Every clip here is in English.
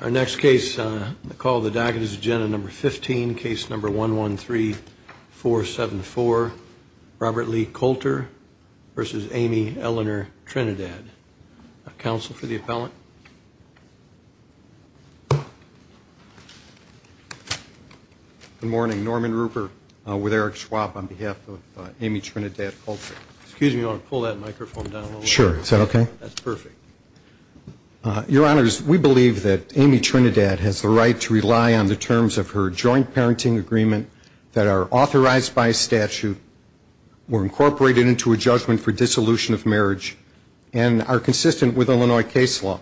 Our next case, the call of the docket is agenda number 15, case number 113474, Robert Lee Coulter versus Amy Eleanor Trinidad. Counsel for the appellant. Good morning. Norman Rupert with Eric Schwab on behalf of Amy Trinidad Coulter. Excuse me, you want to pull that microphone down a little bit? Sure. Is that okay? That's perfect. Your Honors, we believe that Amy Trinidad has the right to rely on the terms of her joint parenting agreement that are authorized by statute, were incorporated into a judgment for dissolution of marriage, and are consistent with Illinois case law.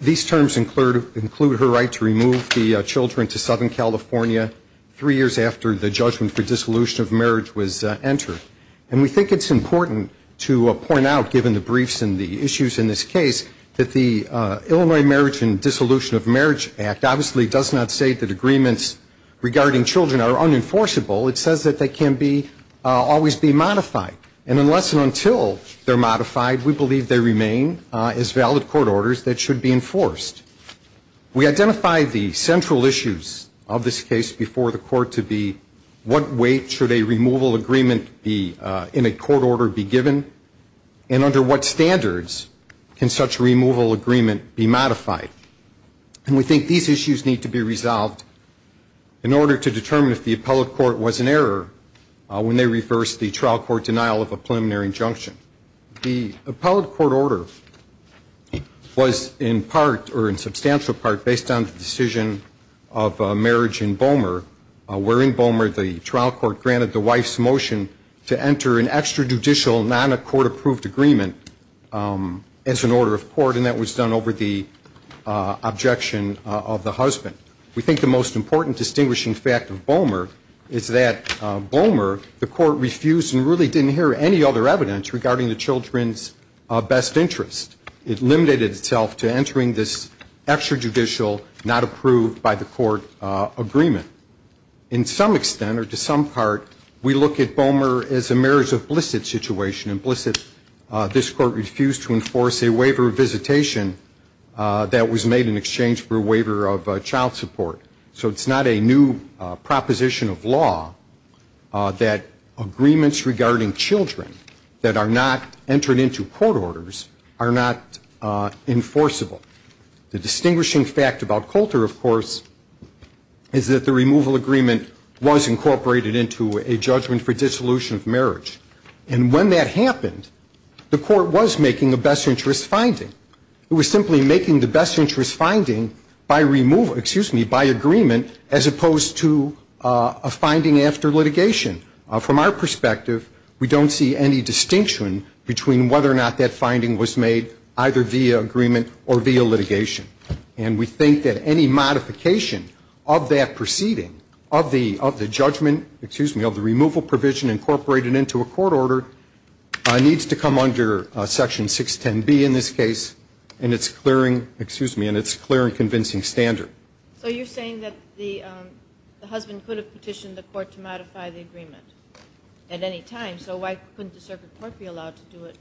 These terms include her right to remove the children to Southern California three years after the judgment for dissolution of marriage was entered. And we think it's important to point out, given the briefs and the issues in this case, that the Illinois Marriage and Dissolution of Marriage Act obviously does not say that agreements regarding children are unenforceable. It says that they can be, always be modified. And unless and until they're modified, we believe they remain as valid court orders that should be enforced. We identify the central issues of this case before the court to be what weight should a removal agreement in a court order be given, and under what standards can such a removal agreement be modified. And we think these issues need to be resolved in order to determine if the appellate court was in error when they reversed the trial court denial of a preliminary injunction. The appellate court order was in part, or in substantial part, based on the decision of marriage in Boehmer, where in Boehmer the trial court granted the wife's motion to enter an extrajudicial, non-court approved agreement as an order of court, and that was done over the objection of the husband. We think the most important distinguishing fact of Boehmer is that Boehmer, the court refused and really didn't hear any other evidence regarding the children's best interest. It limited itself to entering this extrajudicial, not approved by the court agreement. In some extent, or to some part, we look at Boehmer as a marriage of bliss at situation, and bliss at this court refused to enforce a waiver of visitation that was made in exchange for a waiver of child support. So it's not a new proposition of law that agreements regarding children that are not entered into court orders are not enforceable. The distinguishing fact about Coulter, of course, is that the removal agreement was incorporated into a judgment for dissolution of marriage. And when that happened, the court was making a best interest finding. It was simply making the best interest finding by removal, excuse me, by agreement as opposed to a finding after litigation. From our perspective, we don't see any distinction between whether or not that finding was made either via agreement or via litigation. And we think that any modification of that proceeding, of the judgment, excuse me, of the removal provision incorporated into a court order needs to come under Section 610B in this case and its clearing, excuse me, and its clear and convincing standard. So you're saying that the husband could have petitioned the court to modify the agreement at any time. So why couldn't the circuit court be allowed to do it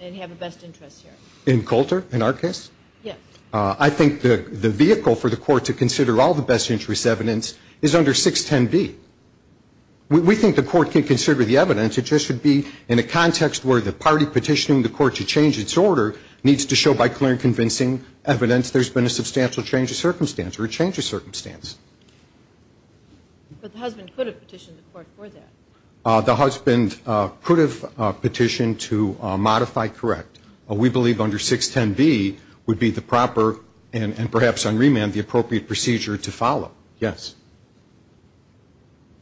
and have a best interest hearing? In Coulter, in our case? Yes. I think the vehicle for the court to consider all the best interest evidence is under 610B. We think the court can consider the evidence. It just should be in a context where the party petitioning the court to change its order needs to show by clear and convincing evidence there's been a substantial change of circumstance or a change of circumstance. But the husband could have petitioned the court for that. The husband could have petitioned to modify correct. We believe under 610B would be the proper and perhaps on remand the appropriate procedure to follow. Yes.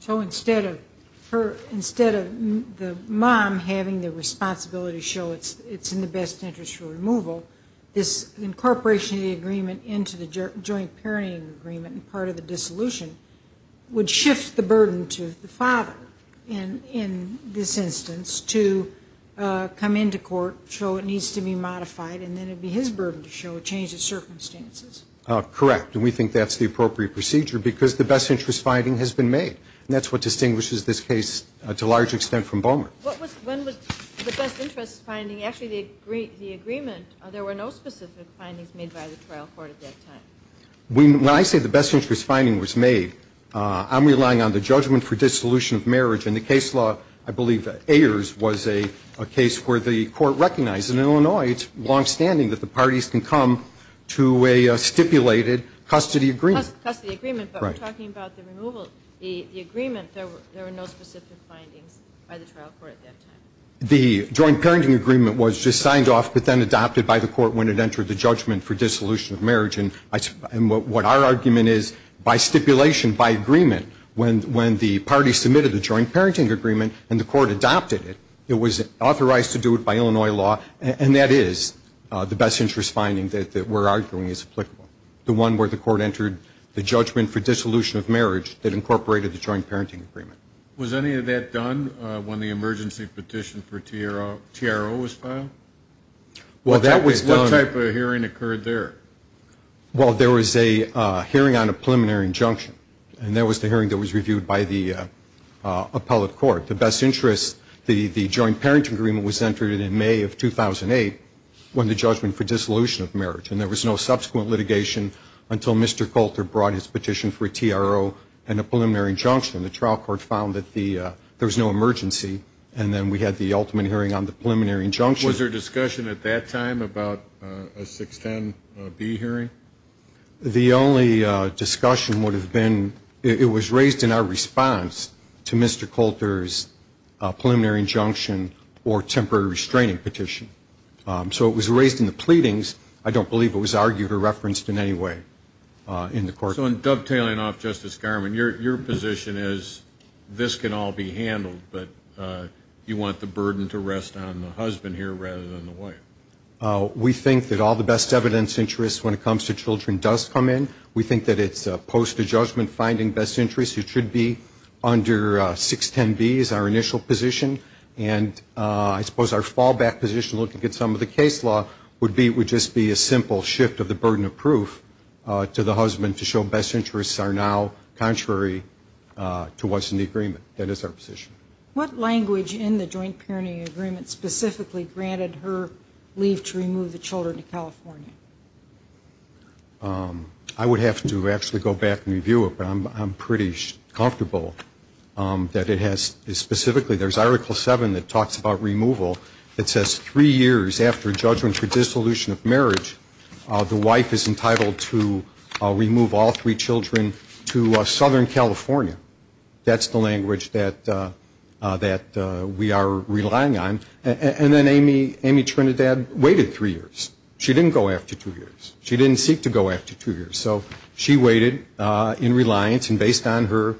So instead of the mom having the responsibility to show it's in the best interest for removal, this incorporation of the agreement into the joint parenting agreement and part of the dissolution would shift the burden to the father in this instance to come into court, show it needs to be modified, and then it would be his burden to show a change of circumstances. Correct. And we think that's the appropriate procedure because the best interest finding has been made. And that's what distinguishes this case to a large extent from Bowmer. When was the best interest finding, actually the agreement, there were no specific findings made by the trial court at that time? When I say the best interest finding was made, I'm relying on the judgment for dissolution of marriage. In the case law, I believe Ayers was a case where the court recognized, in Illinois, it's longstanding that the parties can come to a stipulated custody agreement. Custody agreement, but we're talking about the removal, the agreement. There were no specific findings by the trial court at that time. The joint parenting agreement was just signed off but then adopted by the court when it entered the judgment for dissolution of marriage. And what our argument is, by stipulation, by agreement, when the parties submitted the joint parenting agreement and the court adopted it, it was authorized to do it by Illinois law, and that is the best interest finding that we're arguing is applicable. The one where the court entered the judgment for dissolution of marriage that incorporated the joint parenting agreement. Was any of that done when the emergency petition for TRO was filed? Well, that was done. What type of hearing occurred there? Well, there was a hearing on a preliminary injunction, and that was the hearing that was reviewed by the appellate court. The best interest, the joint parenting agreement was entered in May of 2008 when the judgment for dissolution of marriage. And there was no subsequent litigation until Mr. Coulter brought his petition for a TRO and a preliminary injunction. The trial court found that there was no emergency, and then we had the ultimate hearing on the preliminary injunction. Was there discussion at that time about a 610B hearing? The only discussion would have been, it was raised in our response to Mr. Coulter's preliminary injunction or temporary restraining petition. So it was raised in the pleadings. I don't believe it was argued or referenced in any way in the court. So in dovetailing off Justice Garmon, your position is this can all be handled, but you want the burden to rest on the husband here rather than the wife. We think that all the best evidence interests when it comes to children does come in. We think that it's post-judgment finding best interest. It should be under 610B as our initial position. And I suppose our fallback position, looking at some of the case law, would just be a simple shift of the burden of proof to the husband to show best interests are now contrary to what's in the agreement. That is our position. What language in the joint parenting agreement specifically granted her leave to remove the children to California? I would have to actually go back and review it, but I'm pretty comfortable that it has specifically, there's Article 7 that talks about removal. It says three years after judgment for dissolution of marriage, the wife is entitled to remove all three children to Southern California. That's the language that we are relying on. And then Amy Trinidad waited three years. She didn't go after two years. She didn't seek to go after two years. So she waited in reliance and based on her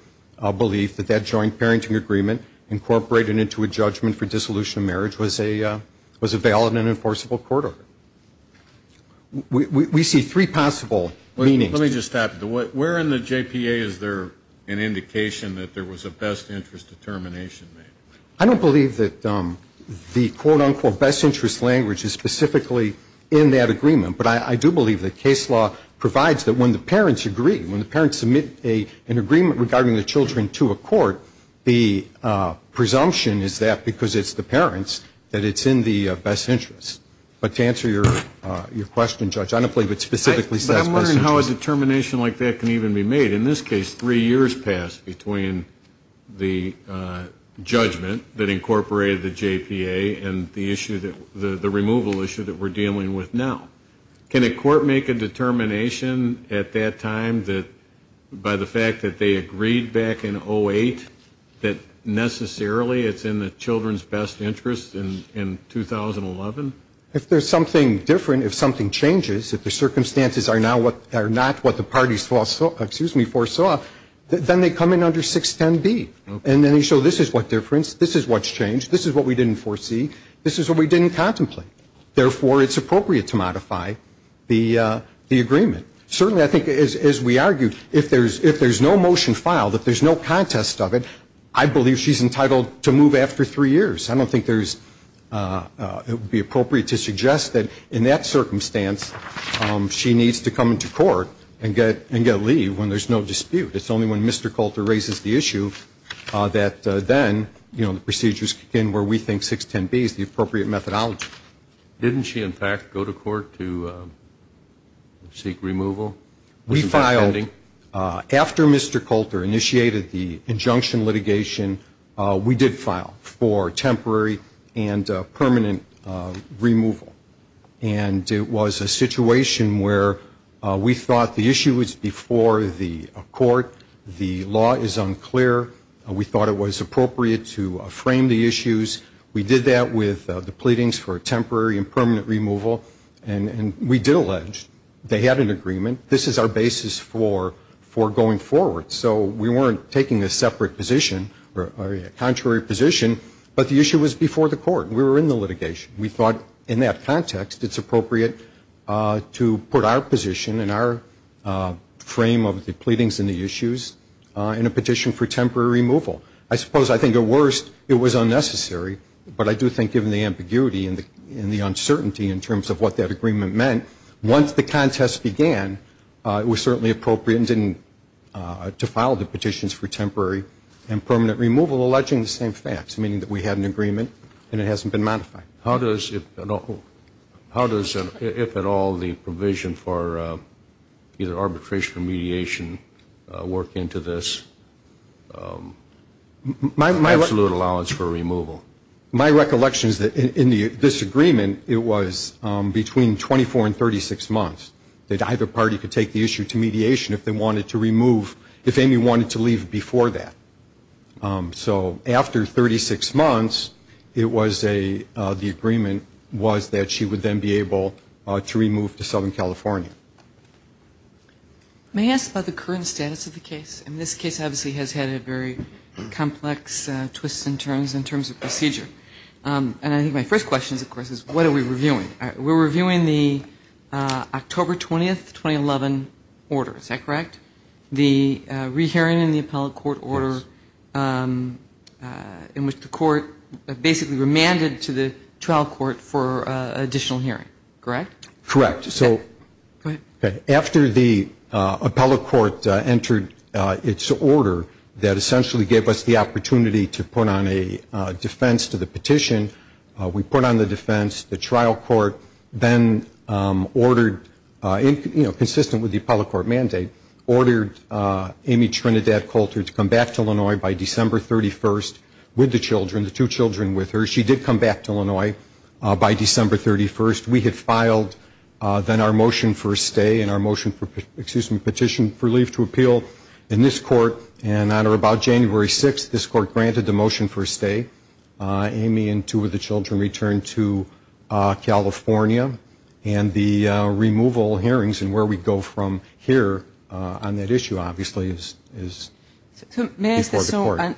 belief that that joint parenting agreement incorporated into a judgment for dissolution of marriage was a valid and enforceable court order. We see three possible meanings. Let me just stop you. Where in the JPA is there an indication that there was a best interest determination made? I don't believe that the quote-unquote best interest language is specifically in that agreement, but I do believe that case law provides that when the parents agree, when the parents submit an agreement regarding the children to a court, the presumption is that because it's the parents that it's in the best interest. But to answer your question, Judge, I don't believe it specifically says best interest. But I'm wondering how a determination like that can even be made. In this case, three years passed between the judgment that incorporated the JPA and the removal issue that we're dealing with now. Can a court make a determination at that time that by the fact that they agreed back in 08 that necessarily it's in the children's best interest in 2011? If there's something different, if something changes, if the circumstances are not what the parties foresaw, then they come in under 610B. And then they show this is what difference, this is what's changed, this is what we didn't foresee, this is what we didn't contemplate. Therefore, it's appropriate to modify the agreement. Certainly, I think as we argued, if there's no motion filed, if there's no contest of it, I believe she's entitled to move after three years. I don't think it would be appropriate to suggest that in that circumstance she needs to come into court and get leave when there's no dispute. It's only when Mr. Coulter raises the issue that then, you know, the procedures begin where we think 610B is the appropriate methodology. Didn't she, in fact, go to court to seek removal? We filed after Mr. Coulter initiated the injunction litigation. We did file for temporary and permanent removal. And it was a situation where we thought the issue was before the court. The law is unclear. We thought it was appropriate to frame the issues. We did that with the pleadings for temporary and permanent removal. And we did allege they had an agreement. This is our basis for going forward. So we weren't taking a separate position or a contrary position, but the issue was before the court. We were in the litigation. We thought in that context it's appropriate to put our position and our frame of the pleadings and the issues in a petition for temporary removal. I suppose I think at worst it was unnecessary, but I do think given the ambiguity and the uncertainty in terms of what that agreement meant, once the contest began it was certainly appropriate to file the petitions for temporary and permanent removal alleging the same facts, meaning that we had an agreement and it hasn't been modified. How does, if at all, the provision for either arbitration or mediation work into this absolute allowance for removal? My recollection is that in this agreement it was between 24 and 36 months, that either party could take the issue to mediation if they wanted to remove, if Amy wanted to leave before that. So after 36 months, it was a, the agreement was that she would then be able to remove to Southern California. May I ask about the current status of the case? Yes. And this case obviously has had a very complex twist in terms of procedure. And I think my first question, of course, is what are we reviewing? We're reviewing the October 20th, 2011 order. Is that correct? The rehearing in the appellate court order in which the court basically remanded to the trial court for additional hearing. Correct? Correct. So after the appellate court entered its order that essentially gave us the opportunity to put on a defense to the petition, we put on the defense. The trial court then ordered, you know, consistent with the appellate court mandate, ordered Amy Trinidad Coulter to come back to Illinois by December 31st with the children, the two children with her. She did come back to Illinois by December 31st. We had filed then our motion for a stay and our motion for, excuse me, petition for leave to appeal in this court. And on or about January 6th, this court granted the motion for a stay. Amy and two of the children returned to California. And the removal hearings and where we go from here on that issue obviously is before the court.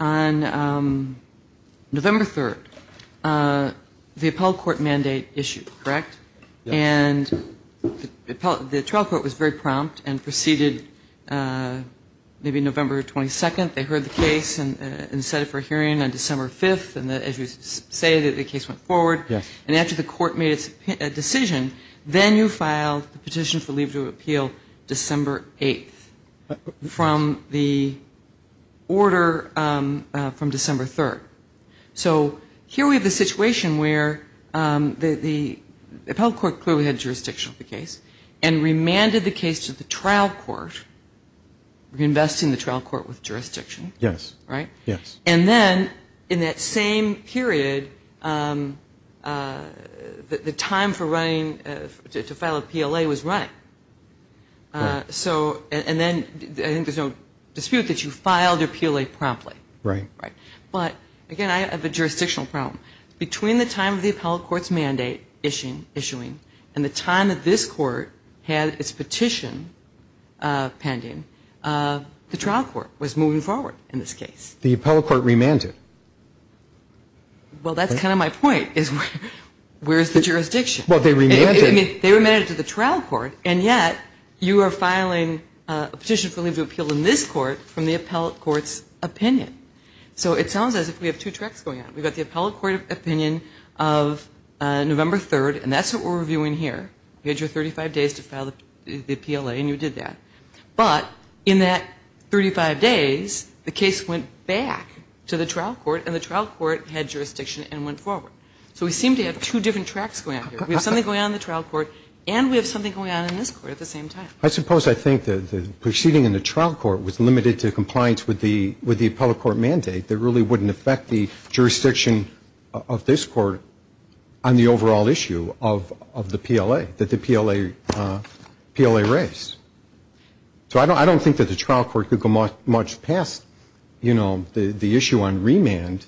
On November 3rd, the appellate court mandate issued, correct? Yes. And the trial court was very prompt and proceeded maybe November 22nd. They heard the case and set it for a hearing on December 5th. And as you say, the case went forward. Yes. And after the court made its decision, then you filed the petition for leave to appeal December 8th. From the order from December 3rd. So here we have a situation where the appellate court clearly had jurisdiction of the case and remanded the case to the trial court, reinvesting the trial court with jurisdiction. Yes. Right? Yes. And then in that same period, the time for running to file a PLA was right. So and then I think there's no dispute that you filed your PLA promptly. Right. But, again, I have a jurisdictional problem. Between the time of the appellate court's mandate issuing and the time that this court had its petition pending, the trial court was moving forward in this case. The appellate court remanded. Well, that's kind of my point is where is the jurisdiction? Well, they remanded. They remanded to the trial court, and yet you are filing a petition for leave to appeal in this court from the appellate court's opinion. So it sounds as if we have two tracks going on. We've got the appellate court opinion of November 3rd, and that's what we're reviewing here. You had your 35 days to file the PLA, and you did that. But in that 35 days, the case went back to the trial court, and the trial court had jurisdiction and went forward. So we seem to have two different tracks going on here. We have something going on in the trial court, and we have something going on in this court at the same time. I suppose I think that the proceeding in the trial court was limited to compliance with the appellate court mandate that really wouldn't affect the jurisdiction of this court on the overall issue of the PLA, that the PLA raised. So I don't think that the trial court could go much past, you know, the issue on remand,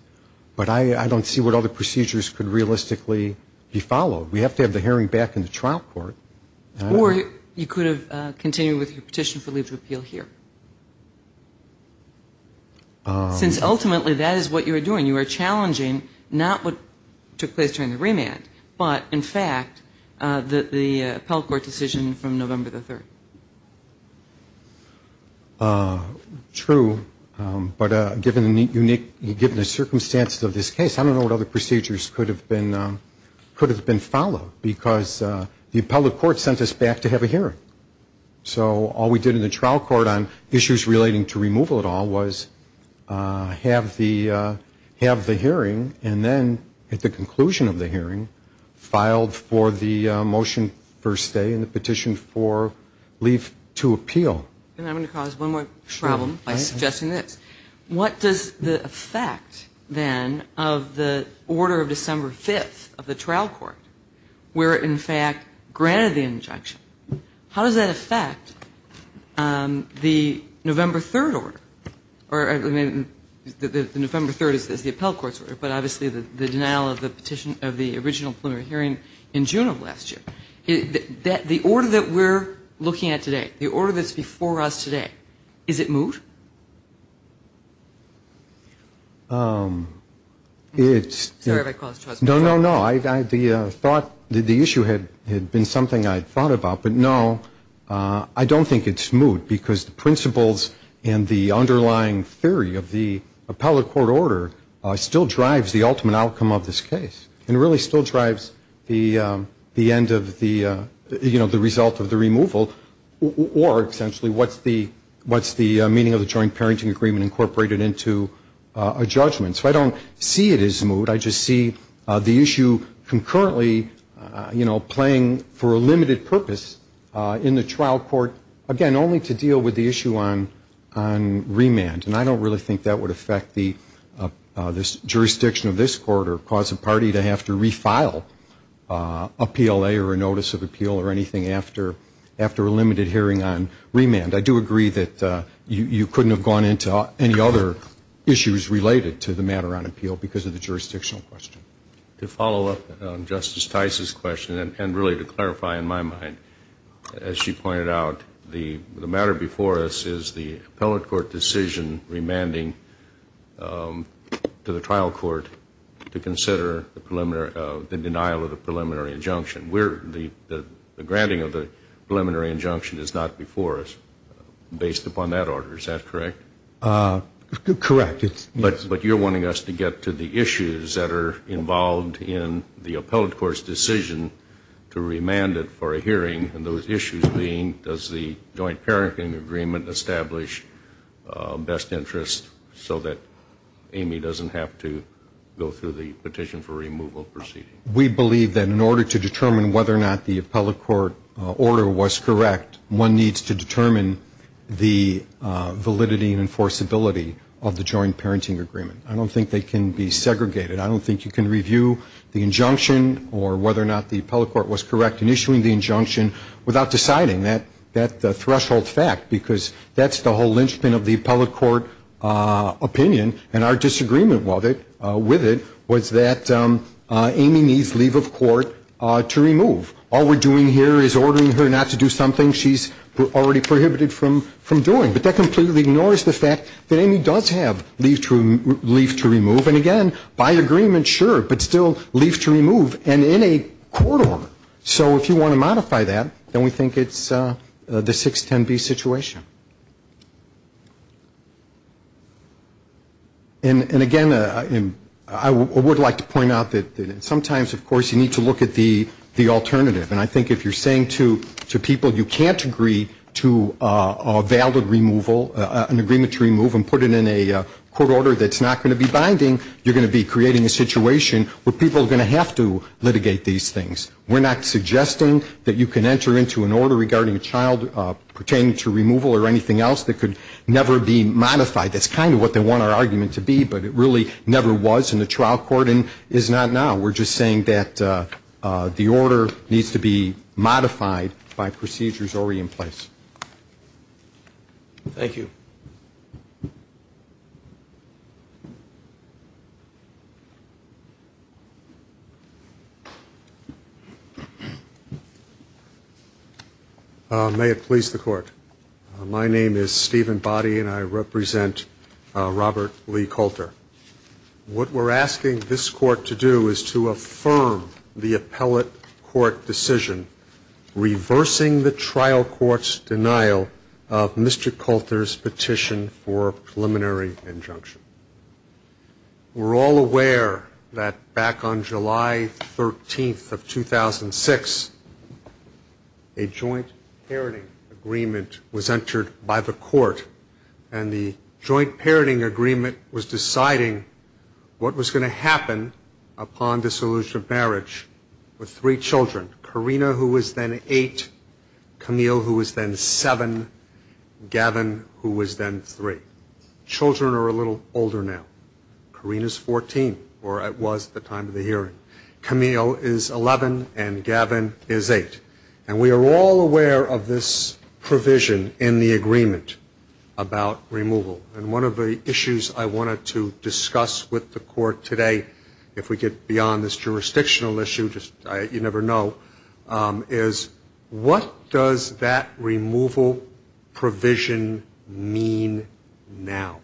but I don't see what other procedures could realistically be followed. We have to have the hearing back in the trial court. Or you could have continued with your petition for leave to appeal here. Since ultimately that is what you were doing. You were challenging not what took place during the remand, but in fact the appellate court decision from November the 3rd. True. But given the unique circumstances of this case, I don't know what other procedures could have been followed, because the appellate court sent us back to have a hearing. So all we did in the trial court on issues relating to removal at all was have the hearing and then at the conclusion of the hearing filed for the motion first stay and the petition for leave to appeal. And I'm going to cause one more problem by suggesting this. What does the effect, then, of the order of December 5th of the trial court where it in fact granted the injunction, how does that affect the November 3rd order? The November 3rd is the appellate court's order, but obviously the denial of the original preliminary hearing in June of last year. The order that we're looking at today, the order that's before us today, is it moot? It's no, no, no. The issue had been something I had thought about. But, no, I don't think it's moot because the principles and the underlying theory of the appellate court order still drives the ultimate outcome of this case and really still drives the end of the result of the removal or essentially what's the meaning of the joint parenting agreement incorporated into a judgment. So I don't see it as moot. I just see the issue concurrently playing for a limited purpose in the trial court, again, only to deal with the issue on remand. And I don't really think that would affect the jurisdiction of this court or cause a party to have to refile a PLA or a notice of appeal or anything after a limited hearing on remand. I do agree that you couldn't have gone into any other issues related to the matter on appeal because of the jurisdictional question. To follow up on Justice Tice's question and really to clarify in my mind, as she pointed out, the matter before us is the appellate court decision remanding to the trial court to consider the denial of the preliminary injunction. The granting of the preliminary injunction is not before us based upon that order. Is that correct? Correct. But you're wanting us to get to the issues that are involved in the appellate court's decision to remand it for a hearing and those issues being does the joint parenting agreement establish best interest so that Amy doesn't have to go through the petition for removal proceeding? We believe that in order to determine whether or not the appellate court order was correct, one needs to determine the validity and enforceability of the joint parenting agreement. I don't think they can be segregated. I don't think you can review the injunction or whether or not the appellate court was correct in issuing the injunction without deciding that threshold fact, because that's the whole linchpin of the appellate court opinion. And our disagreement with it was that Amy needs leave of court to remove. All we're doing here is ordering her not to do something she's already prohibited from doing. But that completely ignores the fact that Amy does have leave to remove. And, again, by agreement, sure, but still leave to remove and in a court order. So if you want to modify that, then we think it's the 610B situation. And, again, I would like to point out that sometimes, of course, you need to look at the alternative. And I think if you're saying to people you can't agree to a valid removal, an agreement to remove, and put it in a court order that's not going to be binding, you're going to be creating a situation where people are going to have to litigate these things. We're not suggesting that you can enter into an order regarding a child pertaining to removal or anything else that could never be modified. That's kind of what they want our argument to be, but it really never was in the trial court and is not now. We're just saying that the order needs to be modified by procedures already in place. Thank you. May it please the Court. My name is Stephen Boddy, and I represent Robert Lee Coulter. What we're asking this Court to do is to affirm the appellate court decision, reversing the trial court's denial of Mr. Coulter's petition for preliminary injunction. We're all aware that back on July 13th of 2006, a joint parenting agreement was entered by the court, and the joint parenting agreement was deciding what was going to happen upon dissolution of marriage with three children, Carina, who was then eight, Camille, who was then seven, and Gavin, who was then three. Children are a little older now. Carina is 14, or was at the time of the hearing. Camille is 11, and Gavin is eight. And we are all aware of this provision in the agreement about removal, and one of the issues I wanted to discuss with the Court today, if we get beyond this jurisdictional issue, you never know, is what does that removal provision mean now?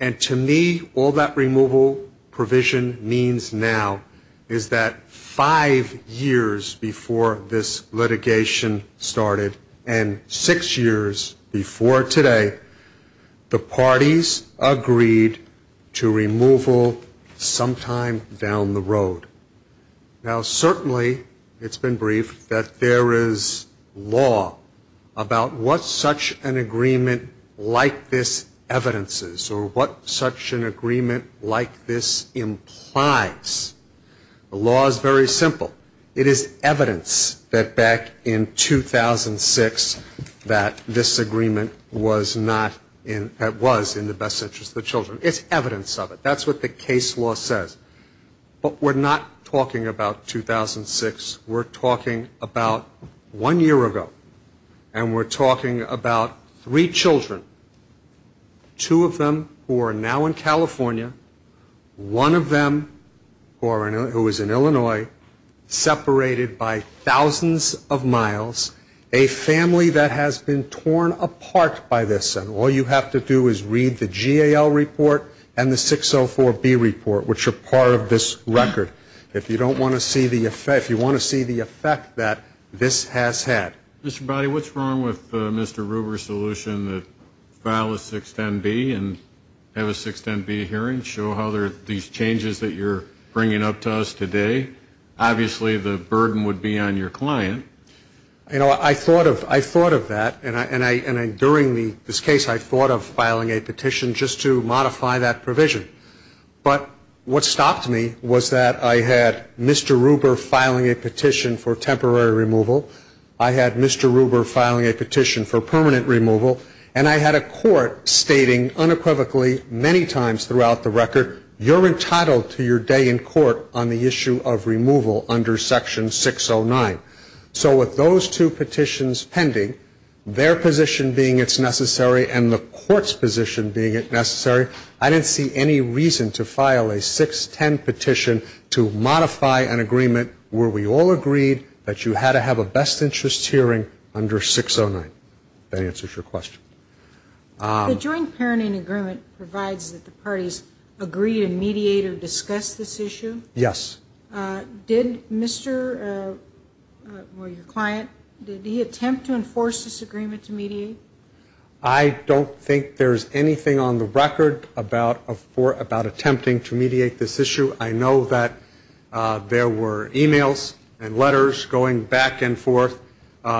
And to me, all that removal provision means now is that five years before this litigation started, and six years before today, the parties agreed to removal sometime down the road. Now, certainly it's been briefed that there is law about what such an agreement like this evidences, or what such an agreement like this implies. The law is very simple. It is evidence that back in 2006 that this agreement was not in, that was in the best interest of the children. It's evidence of it. That's what the case law says. But we're not talking about 2006. We're talking about one year ago, and we're talking about three children, two of them who are now in California, one of them who is in Illinois, separated by thousands of miles, a family that has been torn apart by this. And all you have to do is read the GAL report and the 604B report, which are part of this record. If you don't want to see the effect, if you want to see the effect that this has had. Mr. Bowdy, what's wrong with Mr. Ruber's solution that file a 610B and have a 610B hearing, show how there are these changes that you're bringing up to us today? Obviously the burden would be on your client. You know, I thought of that, and during this case I thought of filing a petition just to modify that provision. But what stopped me was that I had Mr. Ruber filing a petition for temporary removal. I had Mr. Ruber filing a petition for permanent removal. And I had a court stating unequivocally many times throughout the record, you're entitled to your day in court on the issue of removal under Section 609. So with those two petitions pending, their position being it's necessary and the court's position being it's necessary, I didn't see any reason to file a 610 petition to modify an agreement where we all agreed that you had to have a best interest hearing under 609. That answers your question. The joint parenting agreement provides that the parties agree to mediate or discuss this issue? Yes. Did Mr. or your client, did he attempt to enforce this agreement to mediate? I don't think there's anything on the record about attempting to mediate this issue. I know that there were e-mails and letters going back and forth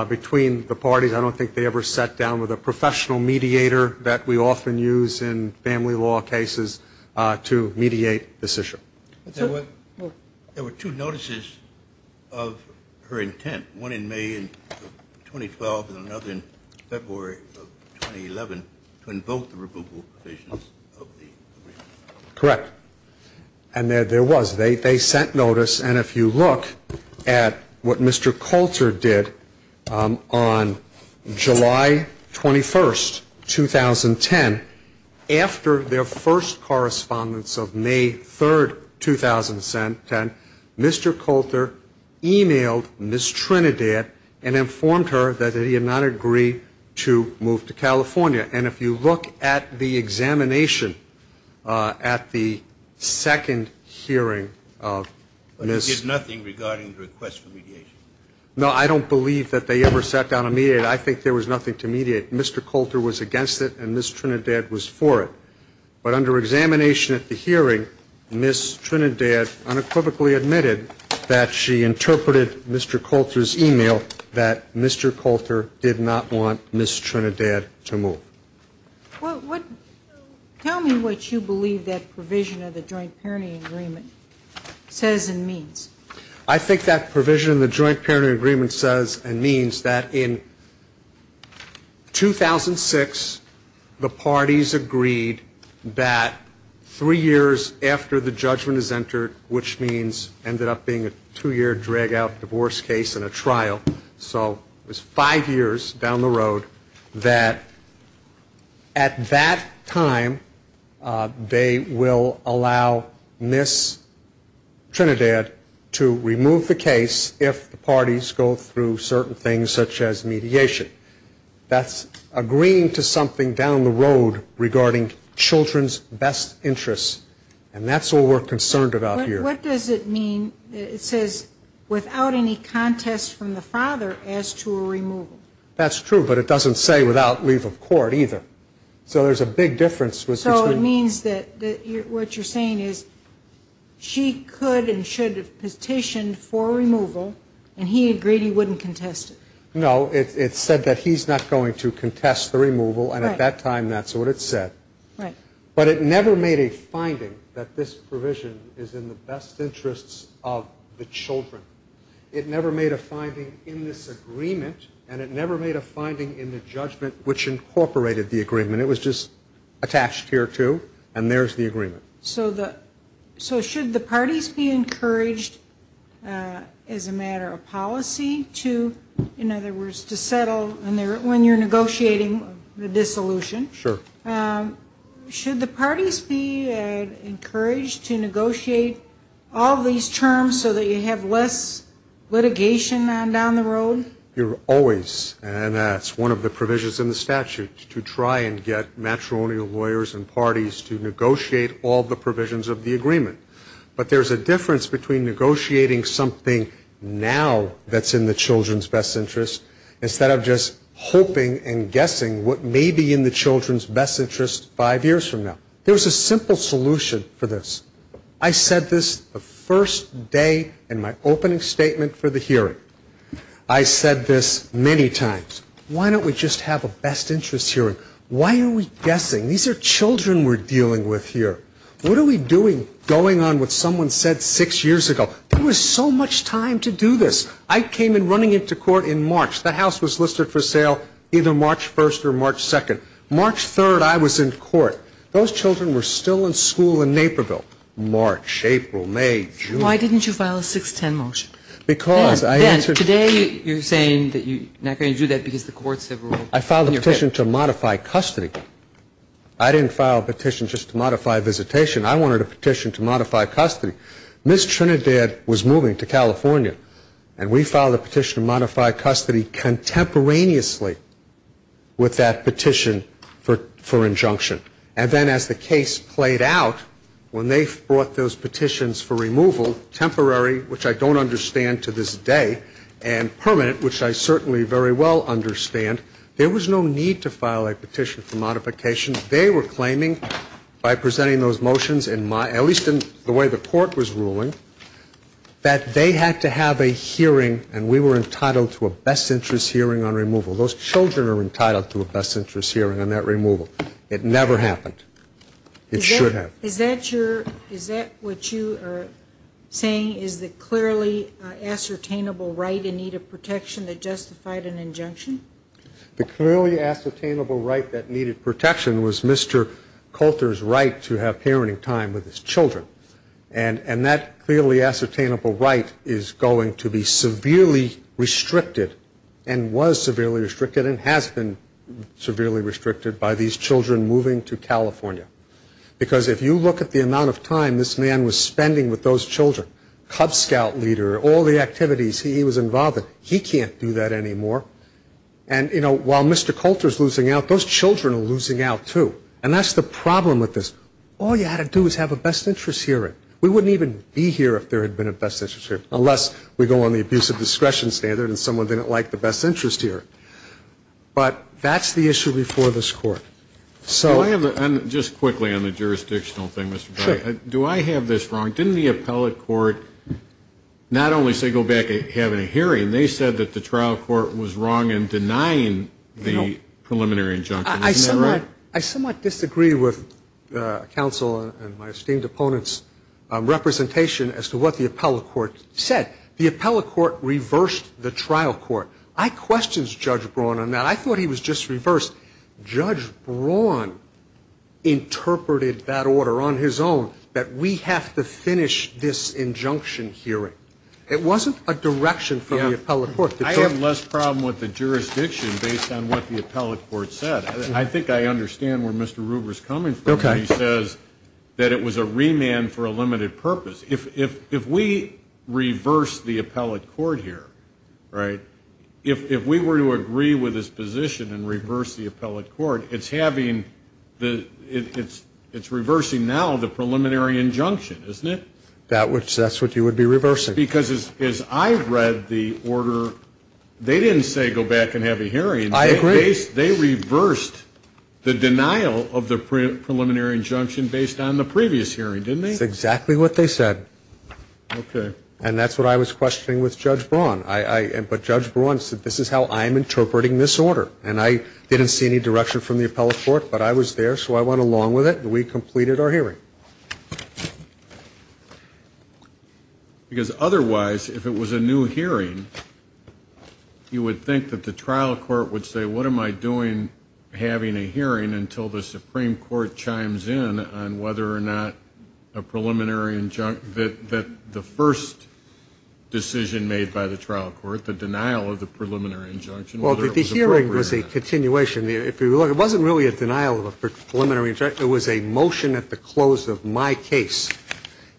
between the parties. I don't think they ever sat down with a professional mediator that we often use in family law cases to mediate this issue. There were two notices of her intent, one in May of 2012 and another in February of 2011 to invoke the removal provisions of the agreement. Correct. And there was. They sent notice. And if you look at what Mr. Coulter did on July 21, 2010, after their first correspondence of May 3, 2010, Mr. Coulter e-mailed Ms. Trinidad and informed her that he had not agreed to move to California. And if you look at the examination at the second hearing of Ms. But he did nothing regarding the request for mediation. No, I don't believe that they ever sat down to mediate. I think there was nothing to mediate. Mr. Coulter was against it and Ms. Trinidad was for it. But under examination at the hearing, Ms. Trinidad unequivocally admitted that she interpreted Mr. Coulter's e-mail that Mr. Coulter did not want Ms. Trinidad to move. Tell me what you believe that provision of the joint parenting agreement says and means. I think that provision of the joint parenting agreement says and means that in 2006 the parties agreed that three years after the judgment is entered, which means ended up being a two-year drag-out divorce case and a trial. So it was five years down the road that at that time they will allow Ms. Trinidad to remove the case if the parties go through certain things such as mediation. That's agreeing to something down the road regarding children's best interests. And that's all we're concerned about here. What does it mean? It says without any contest from the father as to a removal. That's true, but it doesn't say without leave of court either. So there's a big difference. So it means that what you're saying is she could and should have petitioned for a removal and he agreed he wouldn't contest it. No, it said that he's not going to contest the removal, and at that time that's what it said. But it never made a finding that this provision is in the best interests of the children. It never made a finding in this agreement, and it never made a finding in the judgment which incorporated the agreement. It was just attached here to, and there's the agreement. So should the parties be encouraged as a matter of policy to, in other words, to settle when you're negotiating the dissolution? Sure. Should the parties be encouraged to negotiate all these terms so that you have less litigation down the road? You're always, and that's one of the provisions in the statute, to try and get matrimonial lawyers and parties to negotiate all the provisions of the agreement. But there's a difference between negotiating something now that's in the children's best interests instead of just hoping and guessing what may be in the children's best interests five years from now. There's a simple solution for this. I said this the first day in my opening statement for the hearing. I said this many times. Why don't we just have a best interests hearing? Why are we guessing? These are children we're dealing with here. What are we doing going on what someone said six years ago? There was so much time to do this. I came in running into court in March. The House was listed for sale either March 1st or March 2nd. March 3rd, I was in court. Those children were still in school in Naperville. March, April, May, June. Why didn't you file a 610 motion? Because I answered. Ben, today you're saying that you're not going to do that because the courts have ruled. I filed a petition to modify custody. I didn't file a petition just to modify visitation. I wanted a petition to modify custody. Ms. Trinidad was moving to California, and we filed a petition to modify custody contemporaneously with that petition for injunction. And then as the case played out, when they brought those petitions for removal, temporary, which I don't understand to this day, and permanent, which I certainly very well understand, there was no need to file a petition for modification. by presenting those motions, at least in the way the court was ruling, that they had to have a hearing, and we were entitled to a best interest hearing on removal. Those children are entitled to a best interest hearing on that removal. It never happened. It should have. Is that what you are saying is the clearly ascertainable right in need of protection that justified an injunction? The clearly ascertainable right that needed protection was Mr. Coulter's right to have parenting time with his children, and that clearly ascertainable right is going to be severely restricted and was severely restricted and has been severely restricted by these children moving to California. Because if you look at the amount of time this man was spending with those children, Cub Scout leader, all the activities he was involved in, he can't do that anymore. And, you know, while Mr. Coulter is losing out, those children are losing out, too. And that's the problem with this. All you had to do is have a best interest hearing. We wouldn't even be here if there had been a best interest hearing, unless we go on the abuse of discretion standard and someone didn't like the best interest hearing. But that's the issue before this Court. Just quickly on the jurisdictional thing, Mr. Cotter. Sure. Do I have this wrong? Didn't the appellate court not only say go back to having a hearing, they said that the trial court was wrong in denying the preliminary injunction. Isn't that right? I somewhat disagree with counsel and my esteemed opponent's representation as to what the appellate court said. The appellate court reversed the trial court. I questioned Judge Braun on that. I thought he was just reversed. Judge Braun interpreted that order on his own, that we have to finish this injunction hearing. It wasn't a direction from the appellate court. I have less problem with the jurisdiction based on what the appellate court said. I think I understand where Mr. Ruber is coming from when he says that it was a remand for a limited purpose. If we reverse the appellate court here, if we were to agree with his position and reverse the appellate court, it's reversing now the preliminary injunction, isn't it? That's what you would be reversing. Because as I read the order, they didn't say go back and have a hearing. I agree. They reversed the denial of the preliminary injunction based on the previous hearing, didn't they? That's exactly what they said. Okay. And that's what I was questioning with Judge Braun. But Judge Braun said, this is how I'm interpreting this order. And I didn't see any direction from the appellate court, but I was there, so I went along with it, and we completed our hearing. Because otherwise, if it was a new hearing, you would think that the trial court would say, what am I doing having a hearing until the Supreme Court chimes in on whether or not a preliminary injunction, that the first decision made by the trial court, the denial of the preliminary injunction, whether it was appropriate or not. Well, the hearing was a continuation. If you look, it wasn't really a denial of a preliminary injunction. It was a motion at the close of my case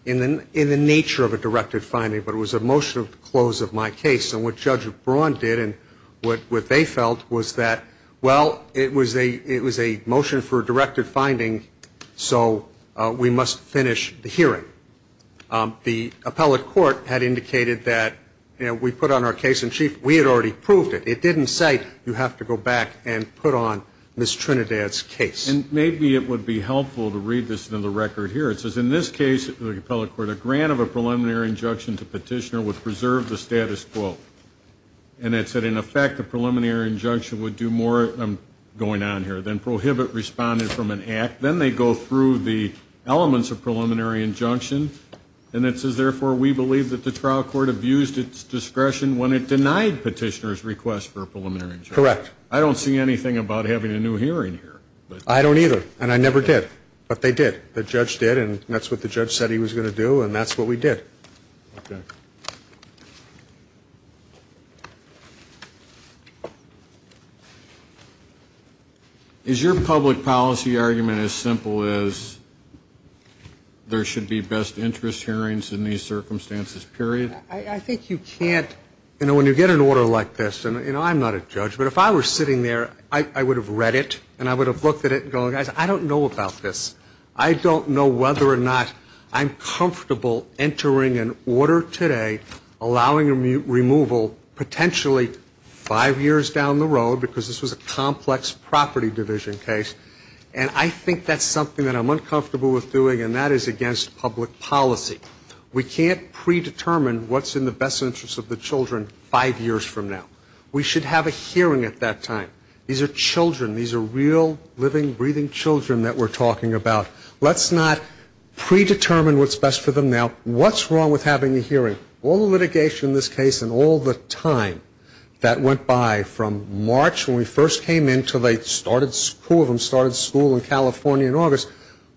in the nature of a directed finding. But it was a motion at the close of my case. And what Judge Braun did and what they felt was that, well, it was a motion for a directed finding, so we must finish the hearing. The appellate court had indicated that we put on our case in chief. We had already proved it. It didn't say you have to go back and put on Ms. Trinidad's case. And maybe it would be helpful to read this in the record here. It says, in this case, the appellate court, a grant of a preliminary injunction to petitioner would preserve the status quo. And it said, in effect, the preliminary injunction would do more, I'm going on here, than prohibit responding from an act. Then they go through the elements of preliminary injunction. And it says, therefore, we believe that the trial court abused its discretion when it denied petitioner's request for a preliminary injunction. Correct. I don't see anything about having a new hearing here. I don't either. And I never did. But they did. The judge did, and that's what the judge said he was going to do, and that's what we did. Okay. Is your public policy argument as simple as there should be best interest hearings in these circumstances, period? I think you can't, you know, when you get an order like this, and, you know, I'm not a judge, but if I were sitting there, I would have read it, and I would have looked at it and gone, guys, I don't know about this. I don't know whether or not I'm comfortable entering an order today allowing removal potentially five years down the road, because this was a complex property division case. And I think that's something that I'm uncomfortable with doing, and that is against public policy. We can't predetermine what's in the best interest of the children five years from now. We should have a hearing at that time. These are children. These are real, living, breathing children that we're talking about. Let's not predetermine what's best for them now. What's wrong with having a hearing? All the litigation in this case and all the time that went by from March when we first came in until they started school in California in August,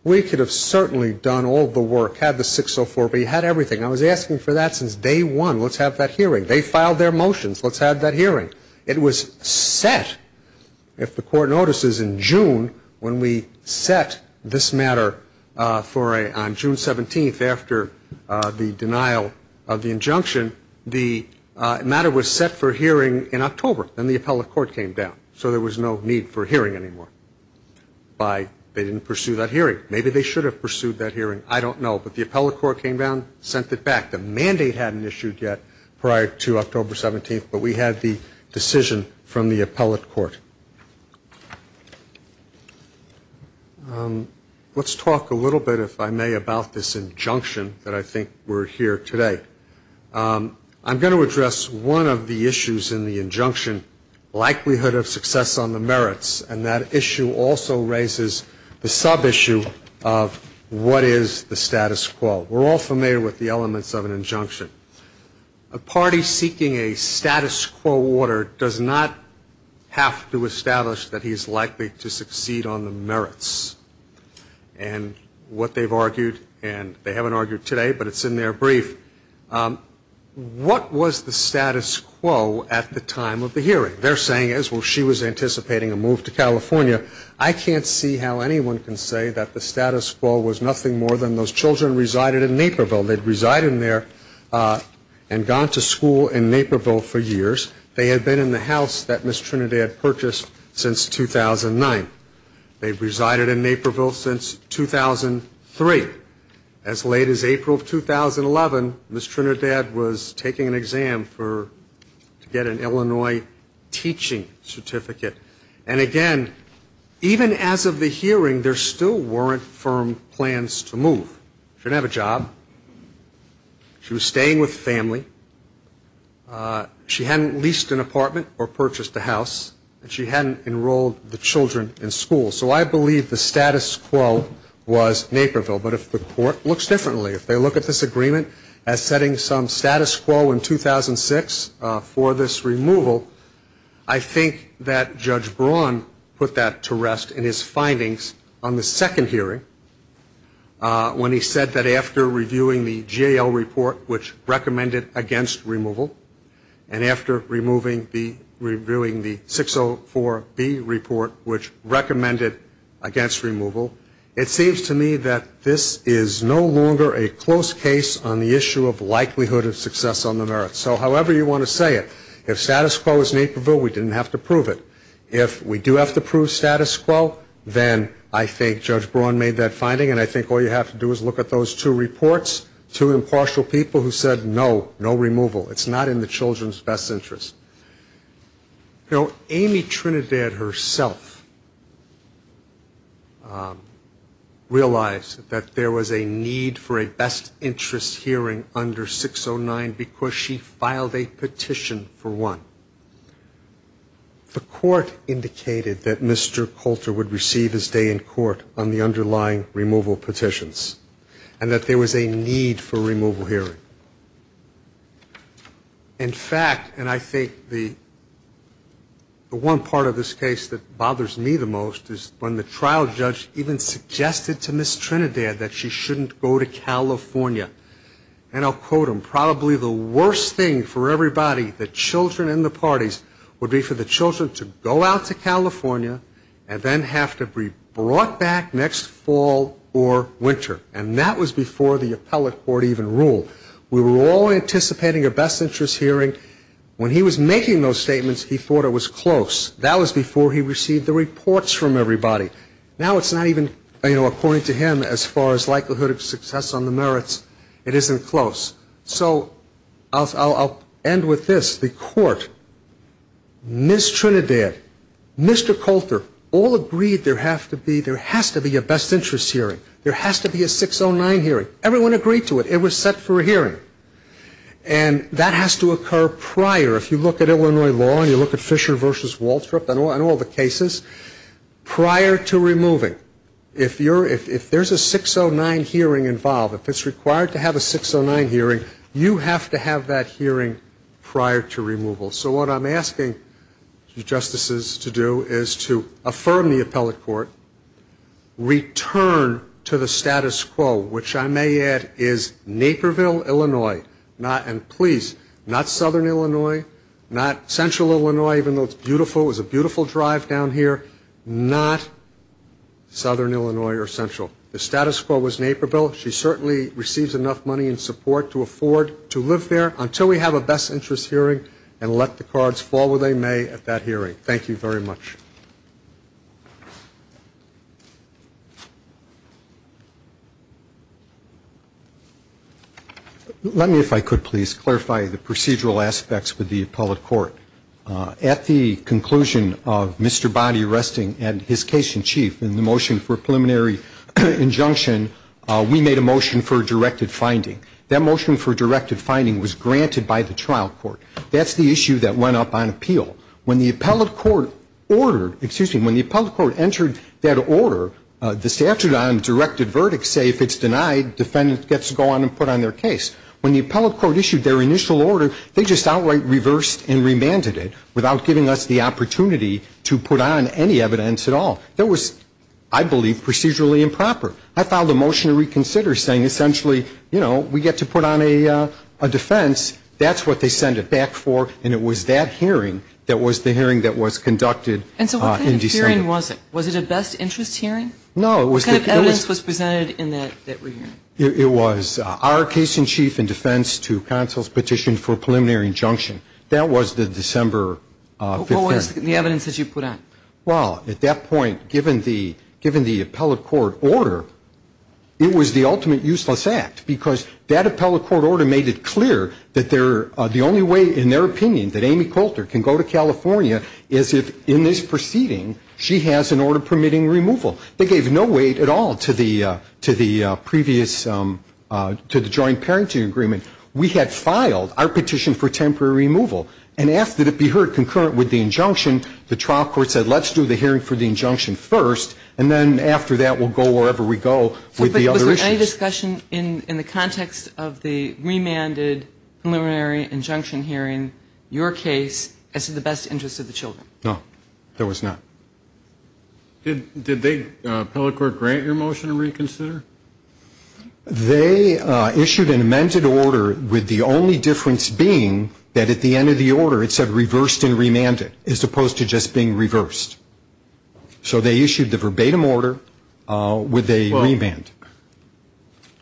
we could have certainly done all the work, had the 604B, had everything. I was asking for that since day one. Let's have that hearing. They filed their motions. Let's have that hearing. It was set, if the court notices, in June when we set this matter on June 17th after the denial of the injunction, the matter was set for hearing in October. Then the appellate court came down, so there was no need for hearing anymore. They didn't pursue that hearing. Maybe they should have pursued that hearing. I don't know. But the appellate court came down, sent it back. The mandate hadn't issued yet prior to October 17th, but we had the decision from the appellate court. Let's talk a little bit, if I may, about this injunction that I think we're here today. I'm going to address one of the issues in the injunction, likelihood of success on the merits, and that issue also raises the sub-issue of what is the status quo. We're all familiar with the elements of an injunction. A party seeking a status quo order does not have to establish that he is likely to succeed on the merits. And what they've argued, and they haven't argued today, but it's in their brief, what was the status quo at the time of the hearing? Their saying is, well, she was anticipating a move to California. I can't see how anyone can say that the status quo was nothing more than those children resided in Naperville. They'd resided there and gone to school in Naperville for years. They had been in the house that Ms. Trinidad purchased since 2009. They'd resided in Naperville since 2003. As late as April of 2011, Ms. Trinidad was taking an exam to get an Illinois teaching certificate. And, again, even as of the hearing, there still weren't firm plans to move. She didn't have a job. She was staying with family. She hadn't leased an apartment or purchased a house, and she hadn't enrolled the children in school. So I believe the status quo was Naperville. But if the court looks differently, if they look at this agreement as setting some status quo in 2006 for this removal, I think that Judge Braun put that to rest in his findings on the second hearing when he said that after reviewing the GAO report, which recommended against removal, and after reviewing the 604B report, which recommended against removal, it seems to me that this is no longer a close case on the issue of likelihood of success on the merits. So however you want to say it, if status quo is Naperville, we didn't have to prove it. If we do have to prove status quo, then I think Judge Braun made that finding, and I think all you have to do is look at those two reports, two impartial people who said no, no removal. It's not in the children's best interest. You know, Amy Trinidad herself realized that there was a need for a best interest hearing under 609 because she filed a petition for one. The court indicated that Mr. Coulter would receive his day in court on the underlying removal petitions and that there was a need for a removal hearing. In fact, and I think the one part of this case that bothers me the most is when the trial judge even suggested to Ms. Trinidad that she shouldn't go to California. And I'll quote him, probably the worst thing for everybody, the children and the parties, would be for the children to go out to California and then have to be brought back next fall or winter. And that was before the appellate court even ruled. We were all anticipating a best interest hearing. When he was making those statements, he thought it was close. That was before he received the reports from everybody. Now it's not even, you know, according to him, as far as likelihood of success on the merits, it isn't close. So I'll end with this. The court, Ms. Trinidad, Mr. Coulter, all agreed there has to be a best interest hearing. There has to be a 609 hearing. Everyone agreed to it. It was set for a hearing. And that has to occur prior. If you look at Illinois law and you look at Fisher v. Waltrip and all the cases, prior to removing. If there's a 609 hearing involved, if it's required to have a 609 hearing, you have to have that hearing prior to removal. So what I'm asking you justices to do is to affirm the appellate court, return to the status quo, which I may add is Naperville, Illinois. And please, not southern Illinois, not central Illinois, even though it's beautiful. It was a beautiful drive down here. Not southern Illinois or central. The status quo was Naperville. She certainly receives enough money and support to afford to live there until we have a best interest hearing and let the cards fall where they may at that hearing. Thank you very much. Let me, if I could please, clarify the procedural aspects with the appellate court. At the conclusion of Mr. Bonny resting and his case in chief in the motion for preliminary injunction, we made a motion for directed finding. That motion for directed finding was granted by the trial court. That's the issue that went up on appeal. When the appellate court ordered, excuse me, when the appellate court entered that order, the statute on directed verdicts say if it's denied, defendant gets to go on and put on their case. When the appellate court issued their initial order, they just outright reversed and remanded it without giving us the opportunity to put on any evidence at all. That was, I believe, procedurally improper. I filed a motion to reconsider saying essentially, you know, we get to put on a defense, that's what they send it back for, and it was that hearing that was the hearing that was conducted in December. And so what kind of hearing was it? Was it a best interest hearing? No. What kind of evidence was presented in that hearing? It was our case in chief in defense to counsel's petition for preliminary injunction. That was the December 5th hearing. What was the evidence that you put on? Well, at that point, given the appellate court order, it was the ultimate useless act because that appellate court order made it clear that the only way, in their opinion, that Amy Coulter can go to California is if in this proceeding she has an order permitting removal. They gave no weight at all to the previous, to the joint parenting agreement. We had filed our petition for temporary removal, and after it be heard concurrent with the injunction, the trial court said let's do the hearing for the injunction first, and then after that we'll go wherever we go with the other issues. Was the discussion in the context of the remanded preliminary injunction hearing your case as to the best interest of the children? No, there was not. Did they, appellate court, grant your motion to reconsider? They issued an amended order with the only difference being that at the end of the order, it said reversed and remanded as opposed to just being reversed. So they issued the verbatim order with a remand.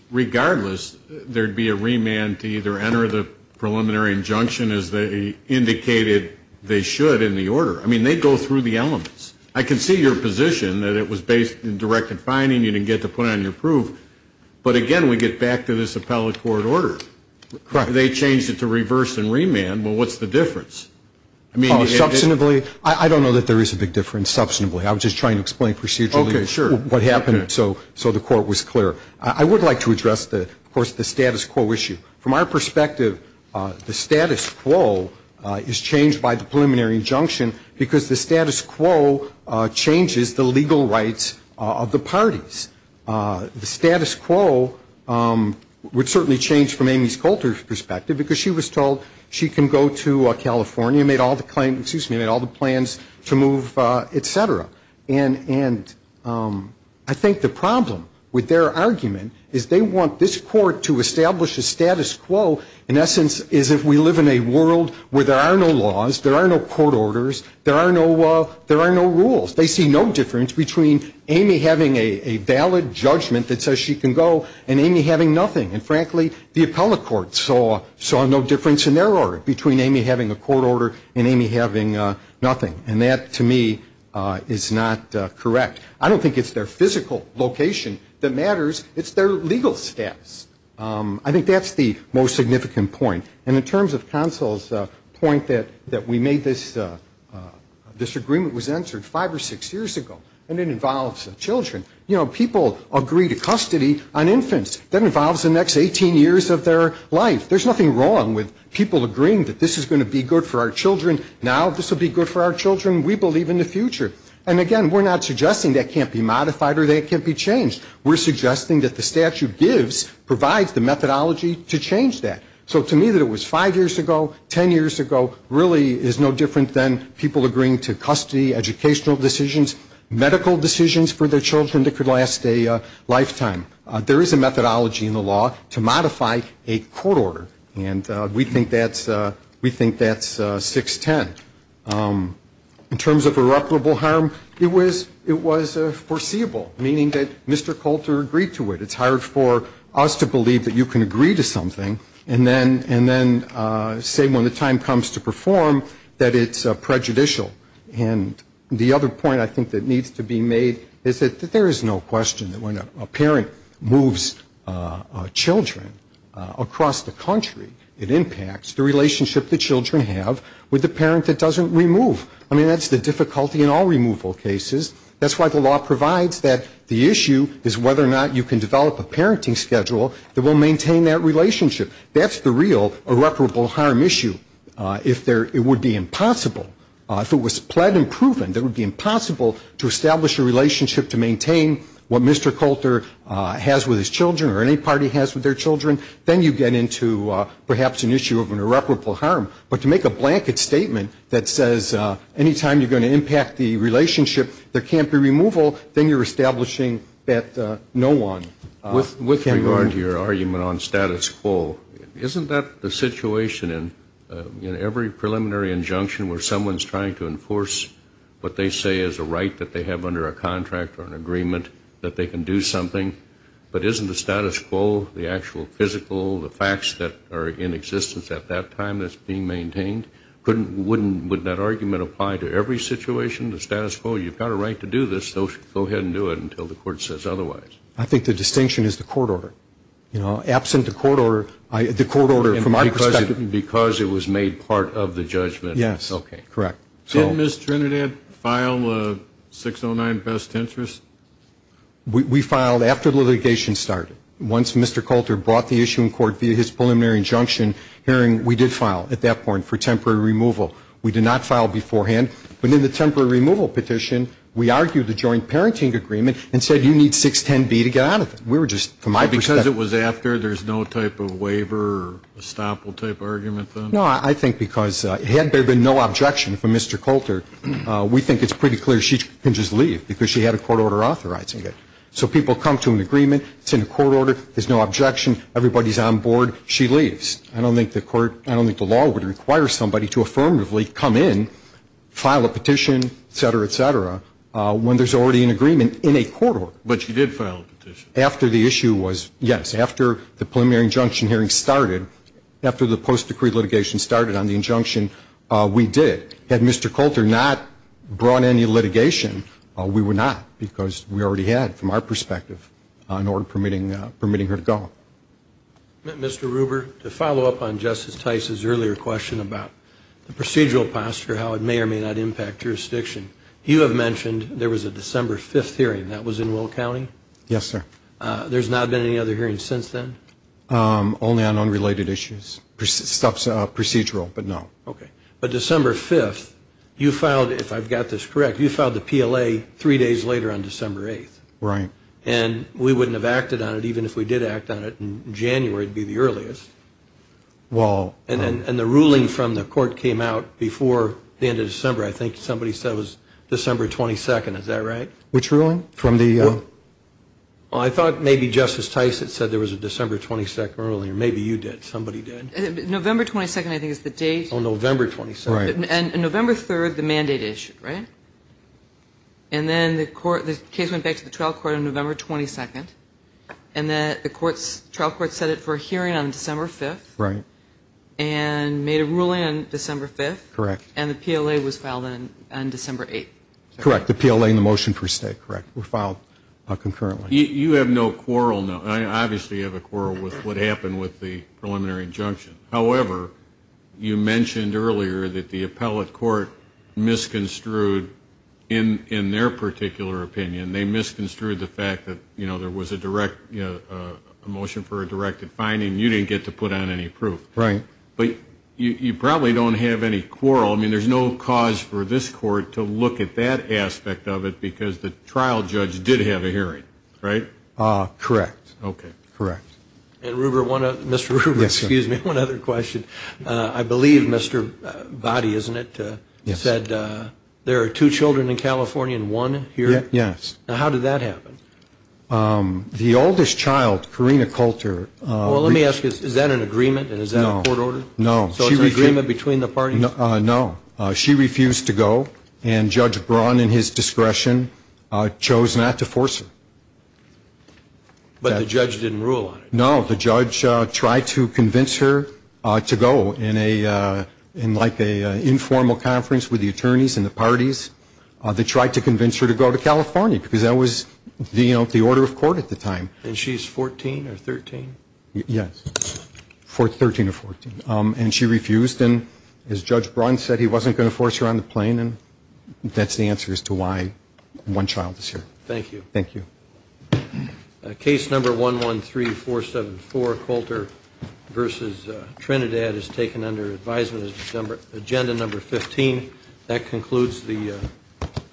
Regardless, there'd be a remand to either enter the preliminary injunction as they indicated they should in the order. I mean, they go through the elements. I can see your position that it was based in direct confining, you didn't get to put on your proof, but again, we get back to this appellate court order. Correct. Well, what's the difference? I don't know that there is a big difference, substantively. I was just trying to explain procedurally what happened so the court was clear. I would like to address, of course, the status quo issue. From our perspective, the status quo is changed by the preliminary injunction because the status quo changes the legal rights of the parties. The status quo would certainly change from Amy's Coulter's perspective because she was told she can go to California and made all the plans to move, et cetera. And I think the problem with their argument is they want this court to establish a status quo in essence as if we live in a world where there are no laws, there are no court orders, there are no rules. They see no difference between Amy having a valid judgment that says she can go and Amy having nothing. And frankly, the appellate court saw no difference in their order between Amy having a court order and Amy having nothing. And that, to me, is not correct. I don't think it's their physical location that matters. It's their legal status. I think that's the most significant point. And in terms of counsel's point that we made, this agreement was entered five or six years ago, and it involves children. You know, people agree to custody on infants. That involves the next 18 years of their life. There's nothing wrong with people agreeing that this is going to be good for our children. Now this will be good for our children. We believe in the future. And, again, we're not suggesting that can't be modified or that can't be changed. We're suggesting that the statute gives, provides the methodology to change that. So to me that it was five years ago, ten years ago, really is no different than people agreeing to custody, educational decisions, medical decisions for their children that could last a lifetime. There is a methodology in the law to modify a court order. And we think that's, we think that's 610. In terms of irreparable harm, it was, it was foreseeable, meaning that Mr. Coulter agreed to it. It's hard for us to believe that you can agree to something and then, and then say when the time comes to perform that it's prejudicial. And the other point I think that needs to be made is that there is no question that when a parent moves children across the country, it impacts the relationship the children have with the parent that doesn't remove. I mean, that's the difficulty in all removal cases. That's why the law provides that the issue is whether or not you can develop a parenting schedule that will maintain that relationship. That's the real irreparable harm issue. If there, it would be impossible, if it was pled and proven, it would be impossible to establish a relationship to maintain what Mr. Coulter has with his children or any party has with their children, then you get into perhaps an issue of an irreparable harm. But to make a blanket statement that says any time you're going to impact the relationship, there can't be removal, then you're establishing that no one can remove. Your argument on status quo, isn't that the situation in every preliminary injunction where someone's trying to enforce what they say is a right that they have under a contract or an agreement that they can do something, but isn't the status quo the actual physical, the facts that are in existence at that time that's being maintained? Wouldn't that argument apply to every situation, the status quo? You've got a right to do this, so go ahead and do it until the court says otherwise. I think the distinction is the court order. You know, absent the court order, the court order from our perspective. Because it was made part of the judgment. Yes. Okay. Correct. Didn't Ms. Trinidad file a 609 best interest? We filed after litigation started. Once Mr. Coulter brought the issue in court via his preliminary injunction hearing, we did file at that point for temporary removal. We did not file beforehand, but in the temporary removal petition, we argued the joint parenting agreement and said you need 610B to get out of it. We were just, from my perspective. Because it was after, there's no type of waiver or estoppel type argument then? No. I think because had there been no objection from Mr. Coulter, we think it's pretty clear she can just leave because she had a court order authorizing it. So people come to an agreement, it's in a court order, there's no objection, everybody's on board, she leaves. I don't think the law would require somebody to affirmatively come in, file a petition, et cetera, et cetera, when there's already an agreement in a court order. But she did file a petition. After the issue was, yes, after the preliminary injunction hearing started, after the post-decree litigation started on the injunction, we did. Had Mr. Coulter not brought any litigation, we would not because we already had, from our perspective, an order permitting her to go. Mr. Ruber, to follow up on Justice Tice's earlier question about the procedural posture, how it may or may not impact jurisdiction, you have mentioned there was a December 5th hearing. That was in Will County? Yes, sir. There's not been any other hearings since then? Only on unrelated issues, procedural, but no. Okay. But December 5th, you filed, if I've got this correct, you filed the PLA three days later on December 8th. Right. And we wouldn't have acted on it even if we did act on it in January. It would be the earliest. And the ruling from the court came out before the end of December. I think somebody said it was December 22nd. Is that right? Which ruling? I thought maybe Justice Tice had said there was a December 22nd ruling. Maybe you did. Somebody did. November 22nd, I think, is the date. Oh, November 22nd. Right. And November 3rd, the mandate issue, right? And then the case went back to the trial court on November 22nd, and then the trial court set it for a hearing on December 5th. Right. And made a ruling on December 5th. Correct. And the PLA was filed on December 8th. Correct. The PLA and the motion for a stay, correct, were filed concurrently. You have no quarrel. I obviously have a quarrel with what happened with the preliminary injunction. However, you mentioned earlier that the appellate court misconstrued, in their particular opinion, and they misconstrued the fact that there was a motion for a directed finding and you didn't get to put on any proof. Right. But you probably don't have any quarrel. I mean, there's no cause for this court to look at that aspect of it because the trial judge did have a hearing, right? Correct. Okay. Correct. And, Mr. Ruber, excuse me, one other question. I believe Mr. Boddy, isn't it, said there are two children in California and one here? Yes. Now, how did that happen? The oldest child, Karina Coulter. Well, let me ask you, is that an agreement and is that a court order? No. So it's an agreement between the parties? No. She refused to go and Judge Braun, in his discretion, chose not to force her. But the judge didn't rule on it. No. The judge tried to convince her to go in like an informal conference with the attorneys and the parties. They tried to convince her to go to California because that was, you know, the order of court at the time. And she's 14 or 13? Yes, 13 or 14. And she refused. And as Judge Braun said, he wasn't going to force her on the plane. And that's the answer as to why one child is here. Thank you. Thank you. Case number 113474, Coulter v. Trinidad, is taken under advisement as agenda number 15. That concludes the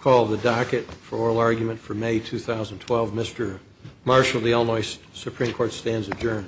call of the docket for oral argument for May 2012. Mr. Marshall, the Illinois Supreme Court stands adjourned.